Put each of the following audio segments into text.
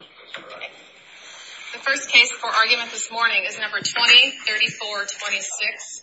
The first case for argument this morning is number 20-34-26,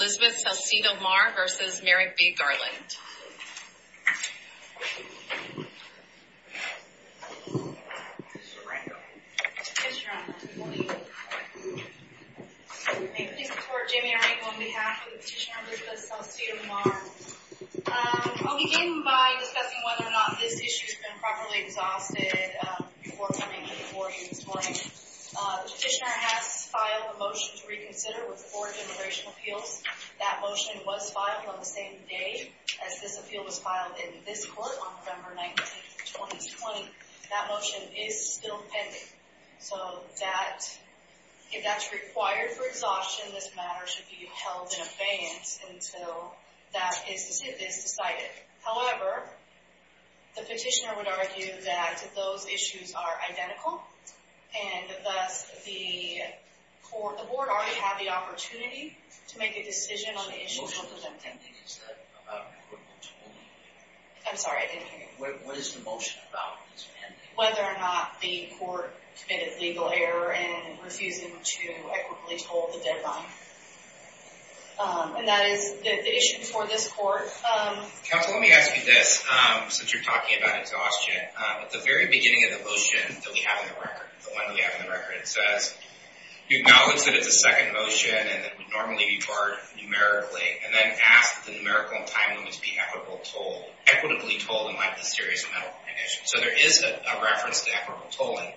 Elizabeth Salcido Mar v. Merrick B. Garland. May it please the court, Jamie Arango on behalf of the petitioner Elizabeth Salcido Mar. I'll begin by discussing whether or not this issue has been properly exhausted before coming before you this morning. The petitioner has filed a motion to reconsider with the Board of Immigration Appeals. That motion was filed on the same day as this appeal was filed in this court on November 19, 2020. That motion is still pending. So that, if that's required for exhaustion, this matter should be held in abeyance until that is decided. However, the petitioner would argue that those issues are identical. And thus, the board already had the opportunity to make a decision on the issue. The motion is pending, is that what the court told you? I'm sorry, I didn't hear you. What is the motion about that's pending? Whether or not the court committed legal error in refusing to equitably toll the deadline. And that is the issue for this court. Counsel, let me ask you this, since you're talking about exhaustion. At the very beginning of the motion that we have in the record, the one we have in the record, it says, you acknowledge that it's a second motion and that it would normally be tolled numerically, and then ask that the numerical and time limits be equitably tolled in light of the serious mental condition. So there is a reference to equitable tolling.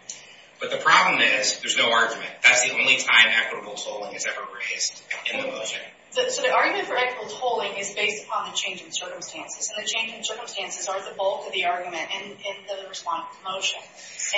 But the problem is, there's no argument. That's the only time equitable tolling is ever raised in the motion. So the argument for equitable tolling is based upon the changing circumstances. And the changing circumstances are the bulk of the argument in the respondent's motion.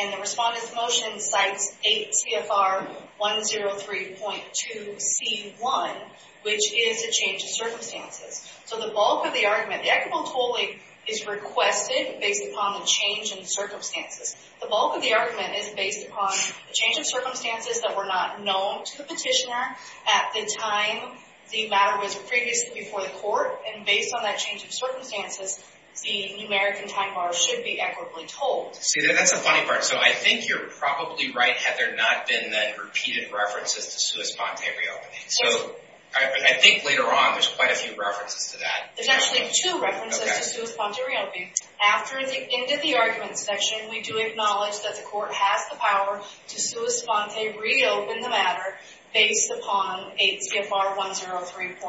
And the respondent's motion cites 8 CFR 103.2C1, which is a change of circumstances. So the bulk of the argument, the equitable tolling is requested based upon the change in circumstances. The bulk of the argument is based upon the change of circumstances that were not known to the petitioner at the time the matter was previously before the court. And based on that change of circumstances, the numeric and time bar should be equitably tolled. See, that's the funny part. So I think you're probably right, Heather, not in the repeated references to sui sponte reopening. So I think later on there's quite a few references to that. There's actually two references to sui sponte reopening. After the end of the argument section, we do acknowledge that the court has the power to sui sponte reopen the matter based upon 8 CFR 103.2A,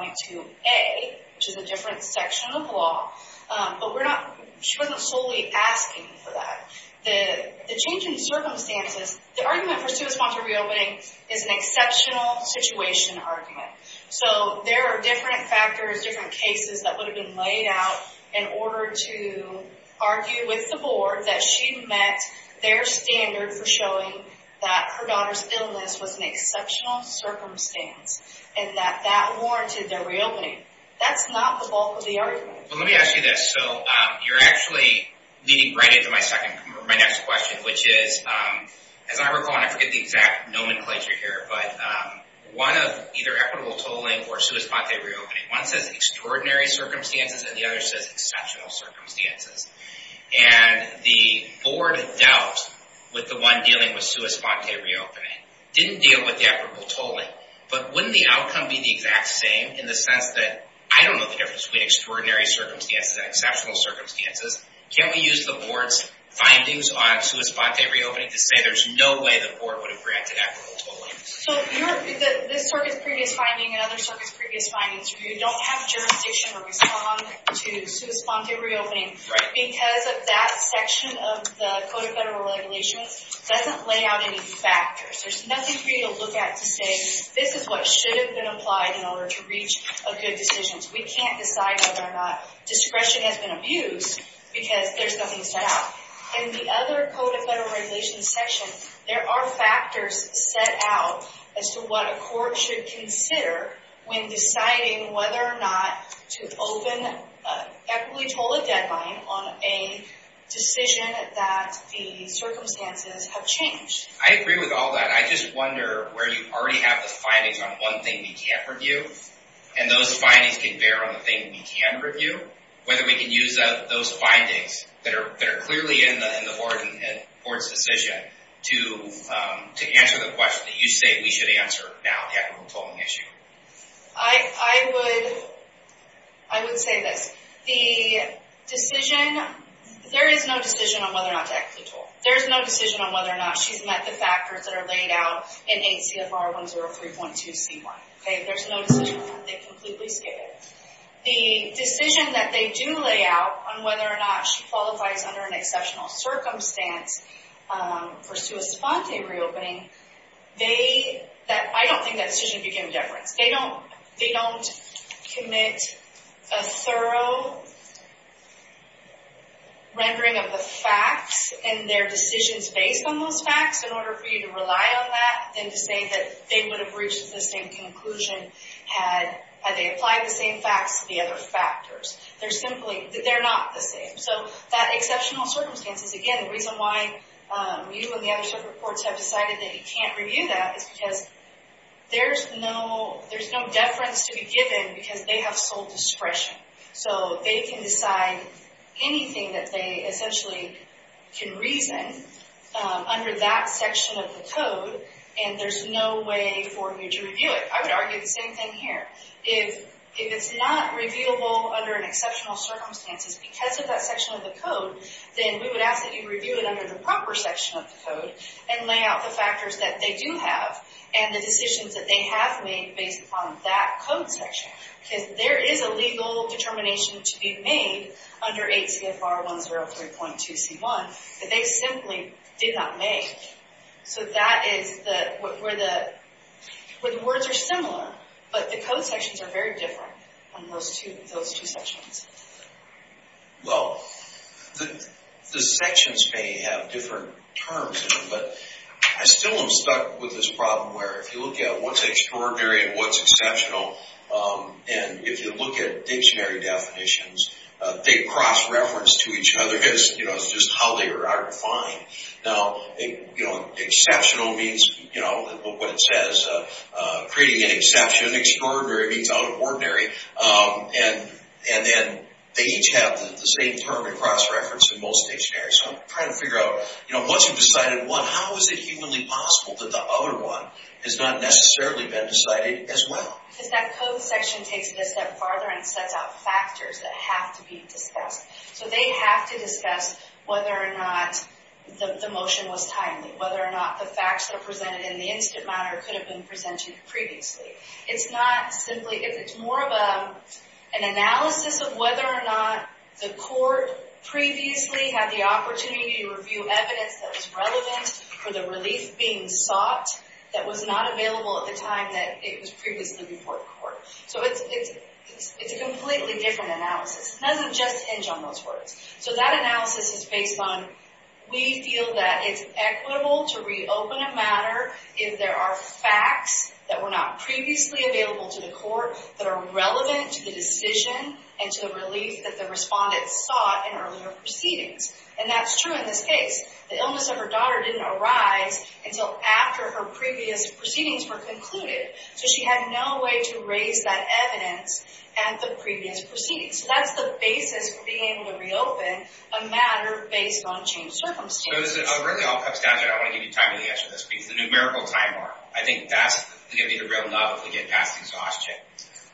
which is a different section of the law. But we're not – she wasn't solely asking for that. The change in circumstances, the argument for sui sponte reopening is an exceptional situation argument. So there are different factors, different cases that would have been laid out in order to argue with the board that she met their standard for showing that her daughter's illness was an exceptional circumstance and that that warranted the reopening. That's not the bulk of the argument. Well, let me ask you this. So you're actually leading right into my next question, which is, as I recall, and I forget the exact nomenclature here, but one of either equitable tolling or sui sponte reopening, one says extraordinary circumstances and the other says exceptional circumstances. And the board dealt with the one dealing with sui sponte reopening, didn't deal with the equitable tolling. But wouldn't the outcome be the exact same in the sense that, I don't know the difference between extraordinary circumstances and exceptional circumstances. Can't we use the board's findings on sui sponte reopening to say there's no way the board would have reacted to equitable tolling? So this circuit's previous finding and other circuits' previous findings, you don't have jurisdiction to respond to sui sponte reopening because of that section of the Code of Federal Regulations doesn't lay out any factors. There's nothing for you to look at to say this is what should have been applied in order to reach a good decision. We can't decide whether or not discretion has been abused because there's nothing set out. In the other Code of Federal Regulations section, there are factors set out as to what a court should consider when deciding whether or not to open an equitably tolled deadline on a decision that the circumstances have changed. I agree with all that. I just wonder where you already have the findings on one thing we can't review, and those findings can bear on the thing we can review. Whether we can use those findings that are clearly in the board's decision to answer the question that you say we should answer now, the equitable tolling issue. I would say this. The decision, there is no decision on whether or not to equitable toll. There's no decision on whether or not she's met the factors that are laid out in 8 CFR 103.2C1. There's no decision on that. They completely skip it. The decision that they do lay out on whether or not she qualifies under an exceptional circumstance for sui sponte reopening, I don't think that decision would be given deference. They don't commit a thorough rendering of the facts and their decisions based on those facts in order for you to rely on that than to say that they would have reached the same conclusion had they applied the same facts to the other factors. They're not the same. That exceptional circumstances, again, the reason why you and the other separate courts have decided that you can't review that is because there's no deference to be given because they have sole discretion. They can decide anything that they essentially can reason under that section of the code, and there's no way for you to review it. I would argue the same thing here. If it's not reviewable under an exceptional circumstances because of that section of the code, then we would ask that you review it under the proper section of the code and lay out the factors that they do have and the decisions that they have made based upon that code section because there is a legal determination to be made under 8 CFR 103.2C1 that they simply did not make. So that is where the words are similar, but the code sections are very different on those two sections. Well, the sections may have different terms in them, but I still am stuck with this problem where if you look at what's extraordinary and what's exceptional, and if you look at dictionary definitions, they cross-reference to each other because it's just how they are defined. Now, exceptional means what it says, creating an exception. Extraordinary means out of ordinary. And then they each have the same term in cross-reference in most dictionaries. So I'm trying to figure out, once you've decided one, how is it humanly possible that the other one has not necessarily been decided as well? Because that code section takes it a step farther and sets out factors that have to be discussed. So they have to discuss whether or not the motion was timely, whether or not the facts that are presented in the instant matter could have been presented previously. It's more of an analysis of whether or not the court previously had the opportunity to review evidence that was relevant for the relief being sought that was not available at the time that it was previously before the court. So it's a completely different analysis. It doesn't just hinge on those words. So that analysis is based on, we feel that it's equitable to reopen a matter if there are facts that were not previously available to the court that are relevant to the decision and to the relief that the respondent sought in earlier proceedings. And that's true in this case. The illness of her daughter didn't arise until after her previous proceedings were concluded. So she had no way to raise that evidence at the previous proceedings. So that's the basis for being able to reopen a matter based on changed circumstances. It really all comes down to, and I want to give you time to answer this, the numerical time bar. I think that's going to be the real nut if we get past exhaustion.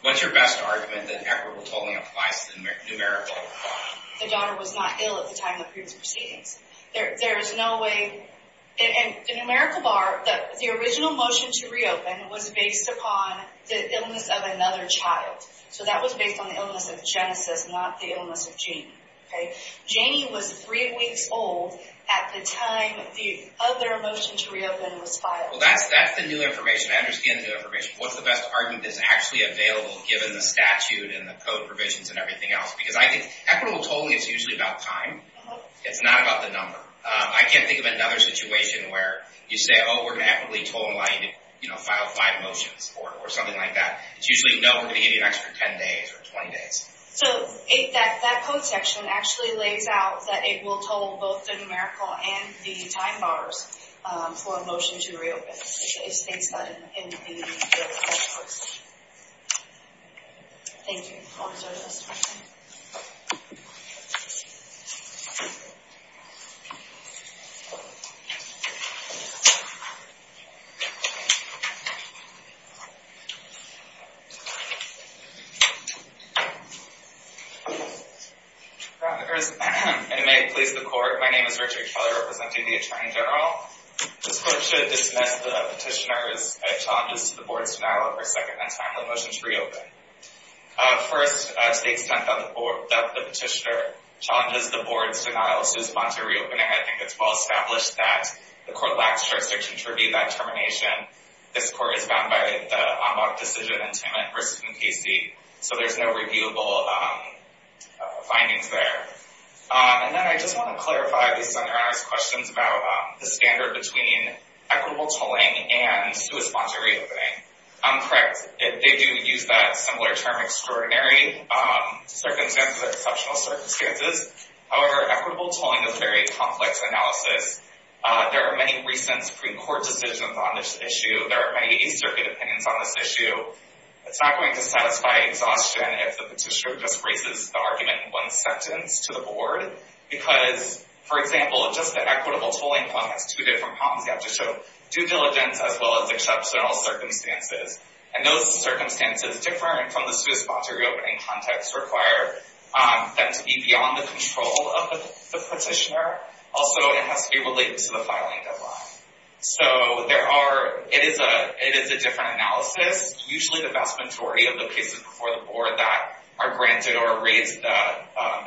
What's your best argument that equitable tolling applies to the numerical bar? The daughter was not ill at the time of the previous proceedings. There is no way. In the numerical bar, the original motion to reopen was based upon the illness of another child. So that was based on the illness of Genesis, not the illness of Janie. Janie was three weeks old at the time the other motion to reopen was filed. Well, that's the new information. I understand the new information. What's the best argument that's actually available given the statute and the code provisions and everything else? Because I think equitable tolling is usually about time. It's not about the number. I can't think of another situation where you say, oh, we're going to equitably toll and allow you to file five motions or something like that. It's usually, no, we're going to give you an extra 10 days or 20 days. So that code section actually lays out that it will toll both the numerical and the time bars for a motion to reopen. It states that in the code section. Thank you. Comments or questions? It may please the court. My name is Richard Keller, representing the attorney general. This court should dismiss the petitioner's challenges to the board's denial of her second and timely motion to reopen. First, to the extent that the petitioner challenges the board's denial to respond to reopening, I think it's well-established that the court lacks jurisdiction to review that termination. This court is bound by the en banc decision in Timmitt v. McCasey. So there's no reviewable findings there. And then I just want to clarify these questions about the standard between equitable tolling and responsive reopening. Correct. They do use that similar term, extraordinary circumstances, exceptional circumstances. However, equitable tolling is a very complex analysis. There are many recent pre-court decisions on this issue. There are many East Circuit opinions on this issue. So it's not going to satisfy exhaustion if the petitioner just raises the argument in one sentence to the board. Because, for example, just the equitable tolling one has two different problems. You have to show due diligence as well as exceptional circumstances. And those circumstances, different from the responsive reopening context, require them to be beyond the control of the petitioner. Also, it has to be related to the filing deadline. So it is a different analysis. Usually the vast majority of the cases before the board that are granted or raised the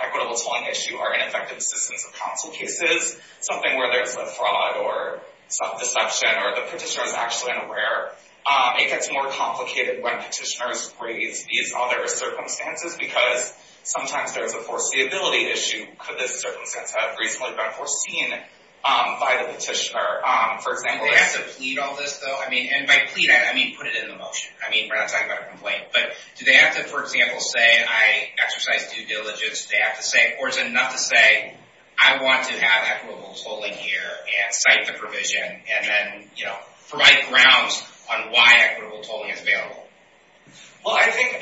equitable tolling issue are ineffective assistance of counsel cases. Something where there's a fraud or self-deception or the petitioner is actually unaware. It gets more complicated when petitioners raise these other circumstances because sometimes there's a foreseeability issue. Could this circumstance have reasonably been foreseen by the petitioner? Do they have to plead all this, though? And by plead, I mean put it in the motion. We're not talking about a complaint. But do they have to, for example, say, I exercise due diligence. Or is it enough to say, I want to have equitable tolling here and cite the provision and then provide grounds on why equitable tolling is available? Well, I think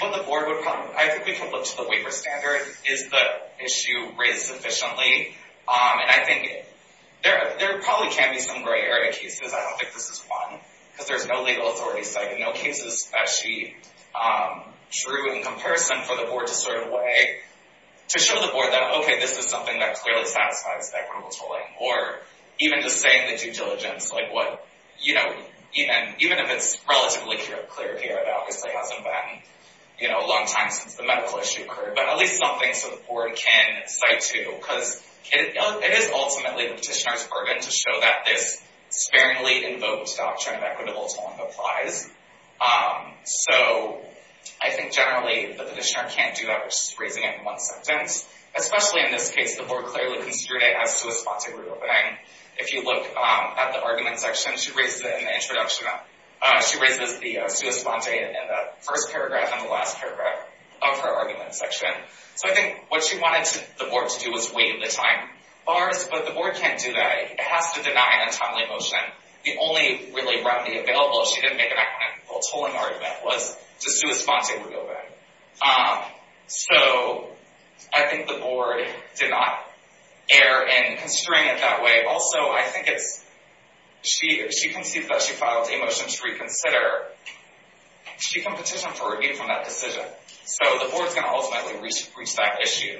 what the board would probably, I think we could look to the waiver standard. Is the issue raised sufficiently? And I think there probably can be some gray area cases. I don't think this is one because there's no legal authority cited. No cases that she drew in comparison for the board to sort of weigh, to show the board that, okay, this is something that clearly satisfies equitable tolling. Or even just saying the due diligence, even if it's relatively clear here, it obviously hasn't been a long time since the medical issue occurred. But at least something so the board can cite to. Because it is ultimately the petitioner's burden to show that this sparingly invoked doctrine of equitable tolling applies. So I think generally the petitioner can't do that by just raising it in one sentence. Especially in this case, the board clearly considered it as sua sponte reopening. If you look at the argument section, she raises it in the introduction. She raises the sua sponte in the first paragraph and the last paragraph of her argument section. So I think what she wanted the board to do was waive the time bars. But the board can't do that. It has to deny an untimely motion. The only really remedy available if she didn't make an equitable tolling argument was the sua sponte reopening. So I think the board did not err in considering it that way. Also, I think it's she concedes that she filed a motion to reconsider. She can petition for review from that decision. So the board's going to ultimately reach that issue.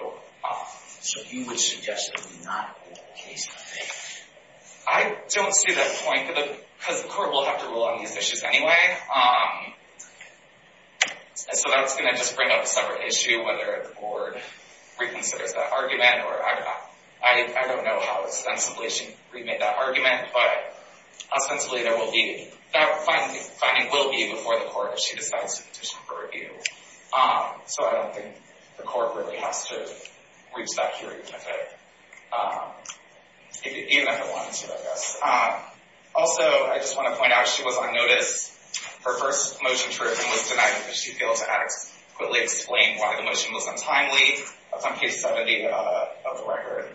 So you would suggest it would not hold the case? I don't see that point. Because the court will have to rule on these issues anyway. So that's going to just bring up a separate issue, whether the board reconsiders that argument. I don't know how ostensibly she remade that argument. But, ostensibly, that finding will be before the court if she decides to petition for review. So I don't think the court really has to reach that hearing even if it wanted to, I guess. Also, I just want to point out, she was on notice. Her first motion was denied because she failed to adequately explain why the motion was untimely. That's on page 70 of the record.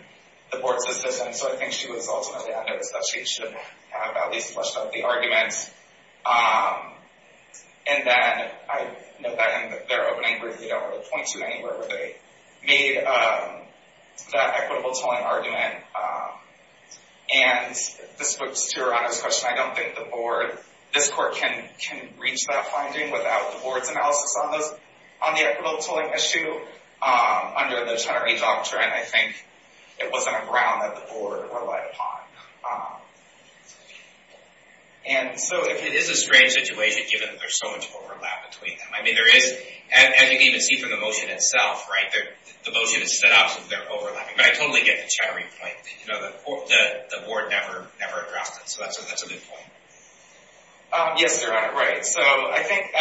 The board's decision. So I think she was ultimately on notice that she should have at least flushed out the argument. And then I note that in their opening brief, they don't really point to anywhere where they made that equitable tolling argument. And this goes to your honest question. I don't think the board, this court can reach that finding without the board's analysis on the equitable tolling issue under the Chenery Doctrine. I think it wasn't a ground that the board relied upon. And so it is a strange situation given that there's so much overlap between them. I mean, there is. As you can even see from the motion itself, right, the motion is set up so that they're overlapping. But I totally get the Chenery point. The board never addressed it. So that's a good point. Yes, Your Honor. Right. So I think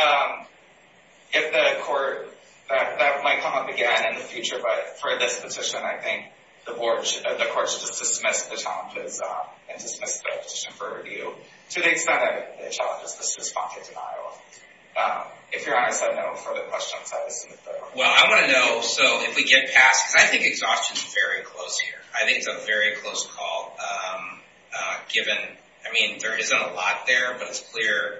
if the court, that might come up again in the future. But for this petition, I think the board, the court should just dismiss the challenges and dismiss the petition for review. To the extent of the challenges, this is fount of denial. If Your Honor said no further questions, I would submit the motion. Well, I want to know, so if we get past, because I think exhaustion is very close here. I think it's a very close call. Given, I mean, there isn't a lot there, but it's clear.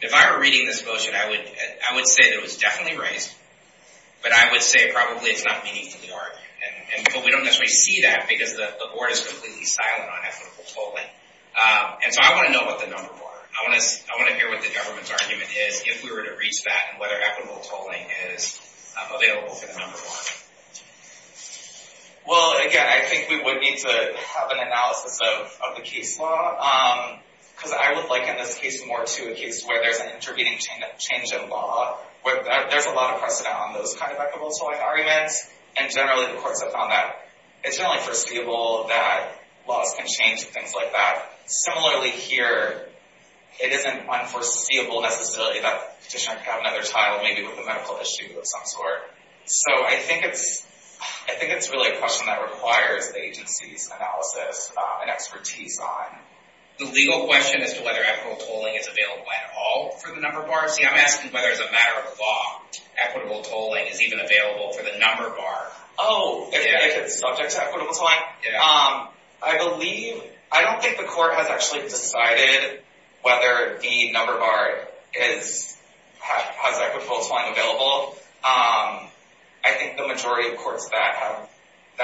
If I were reading this motion, I would say that it was definitely raised. But I would say probably it's not meaningfully argued. But we don't necessarily see that because the board is completely silent on equitable tolling. And so I want to know what the numbers are. I want to hear what the government's argument is, if we were to reach that, and whether equitable tolling is available for the number one. Well, again, I think we would need to have an analysis of the case law. Because I would liken this case more to a case where there's an intervening change in law. There's a lot of precedent on those kind of equitable tolling arguments. And generally the courts have found that it's generally foreseeable that laws can change and things like that. Similarly here, it isn't unforeseeable necessarily that the petitioner can have another trial, maybe with a medical issue of some sort. So I think it's really a question that requires the agency's analysis and expertise on. The legal question as to whether equitable tolling is available at all for the number bar? See, I'm asking whether as a matter of law, equitable tolling is even available for the number bar. Oh, subject to equitable tolling? Yeah. I don't think the court has actually decided whether the number bar has equitable tolling available. I think the majority of courts that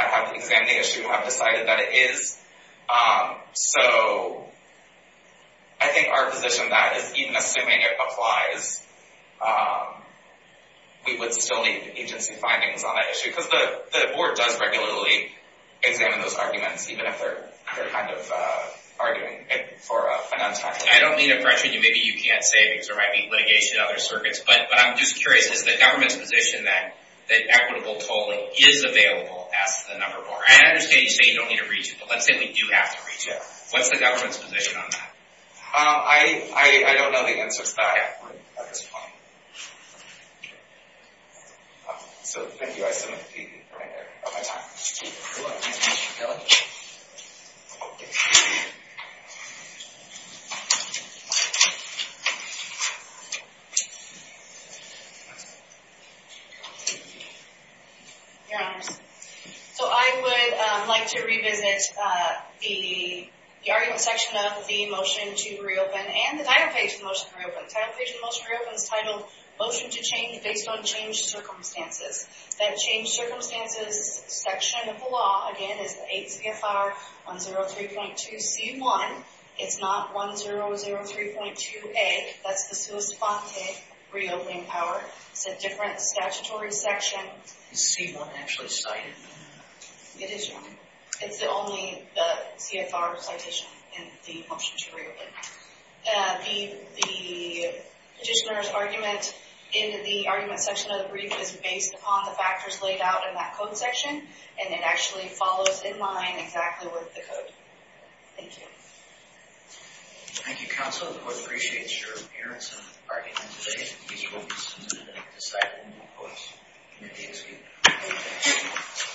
have examined the issue have decided that it is. So I think our position is that even assuming it applies, we would still need agency findings on that issue. Because the board does regularly examine those arguments, even if they're kind of arguing it for a non-tax reason. I don't mean to pressure you. Maybe you can't say because there might be litigation in other circuits. But I'm just curious. Is the government's position that equitable tolling is available as the number bar? And I understand you say you don't need to reach it, but let's say we do have to reach it. What's the government's position on that? I don't know the answer to that. So thank you. I still have the TV right there. I'm out of time. Your Honors, so I would like to revisit the argument section of the motion to reopen and the title page of the motion to reopen. So the title page of the motion to reopen is titled Motion to Change Based on Changed Circumstances. That changed circumstances section of the law, again, is 8 CFR 103.2C1. It's not 1003.2A. That's the sua sponte reopening power. It's a different statutory section. Is C1 actually cited? It is, Your Honor. It's only the CFR citation in the motion to reopen. The petitioner's argument in the argument section of the brief is based upon the factors laid out in that code section, and it actually follows in line exactly with the code. Thank you. Thank you, Counsel. The court appreciates your appearance and argument today. These motions have been decided in the courts. The committee is adjourned.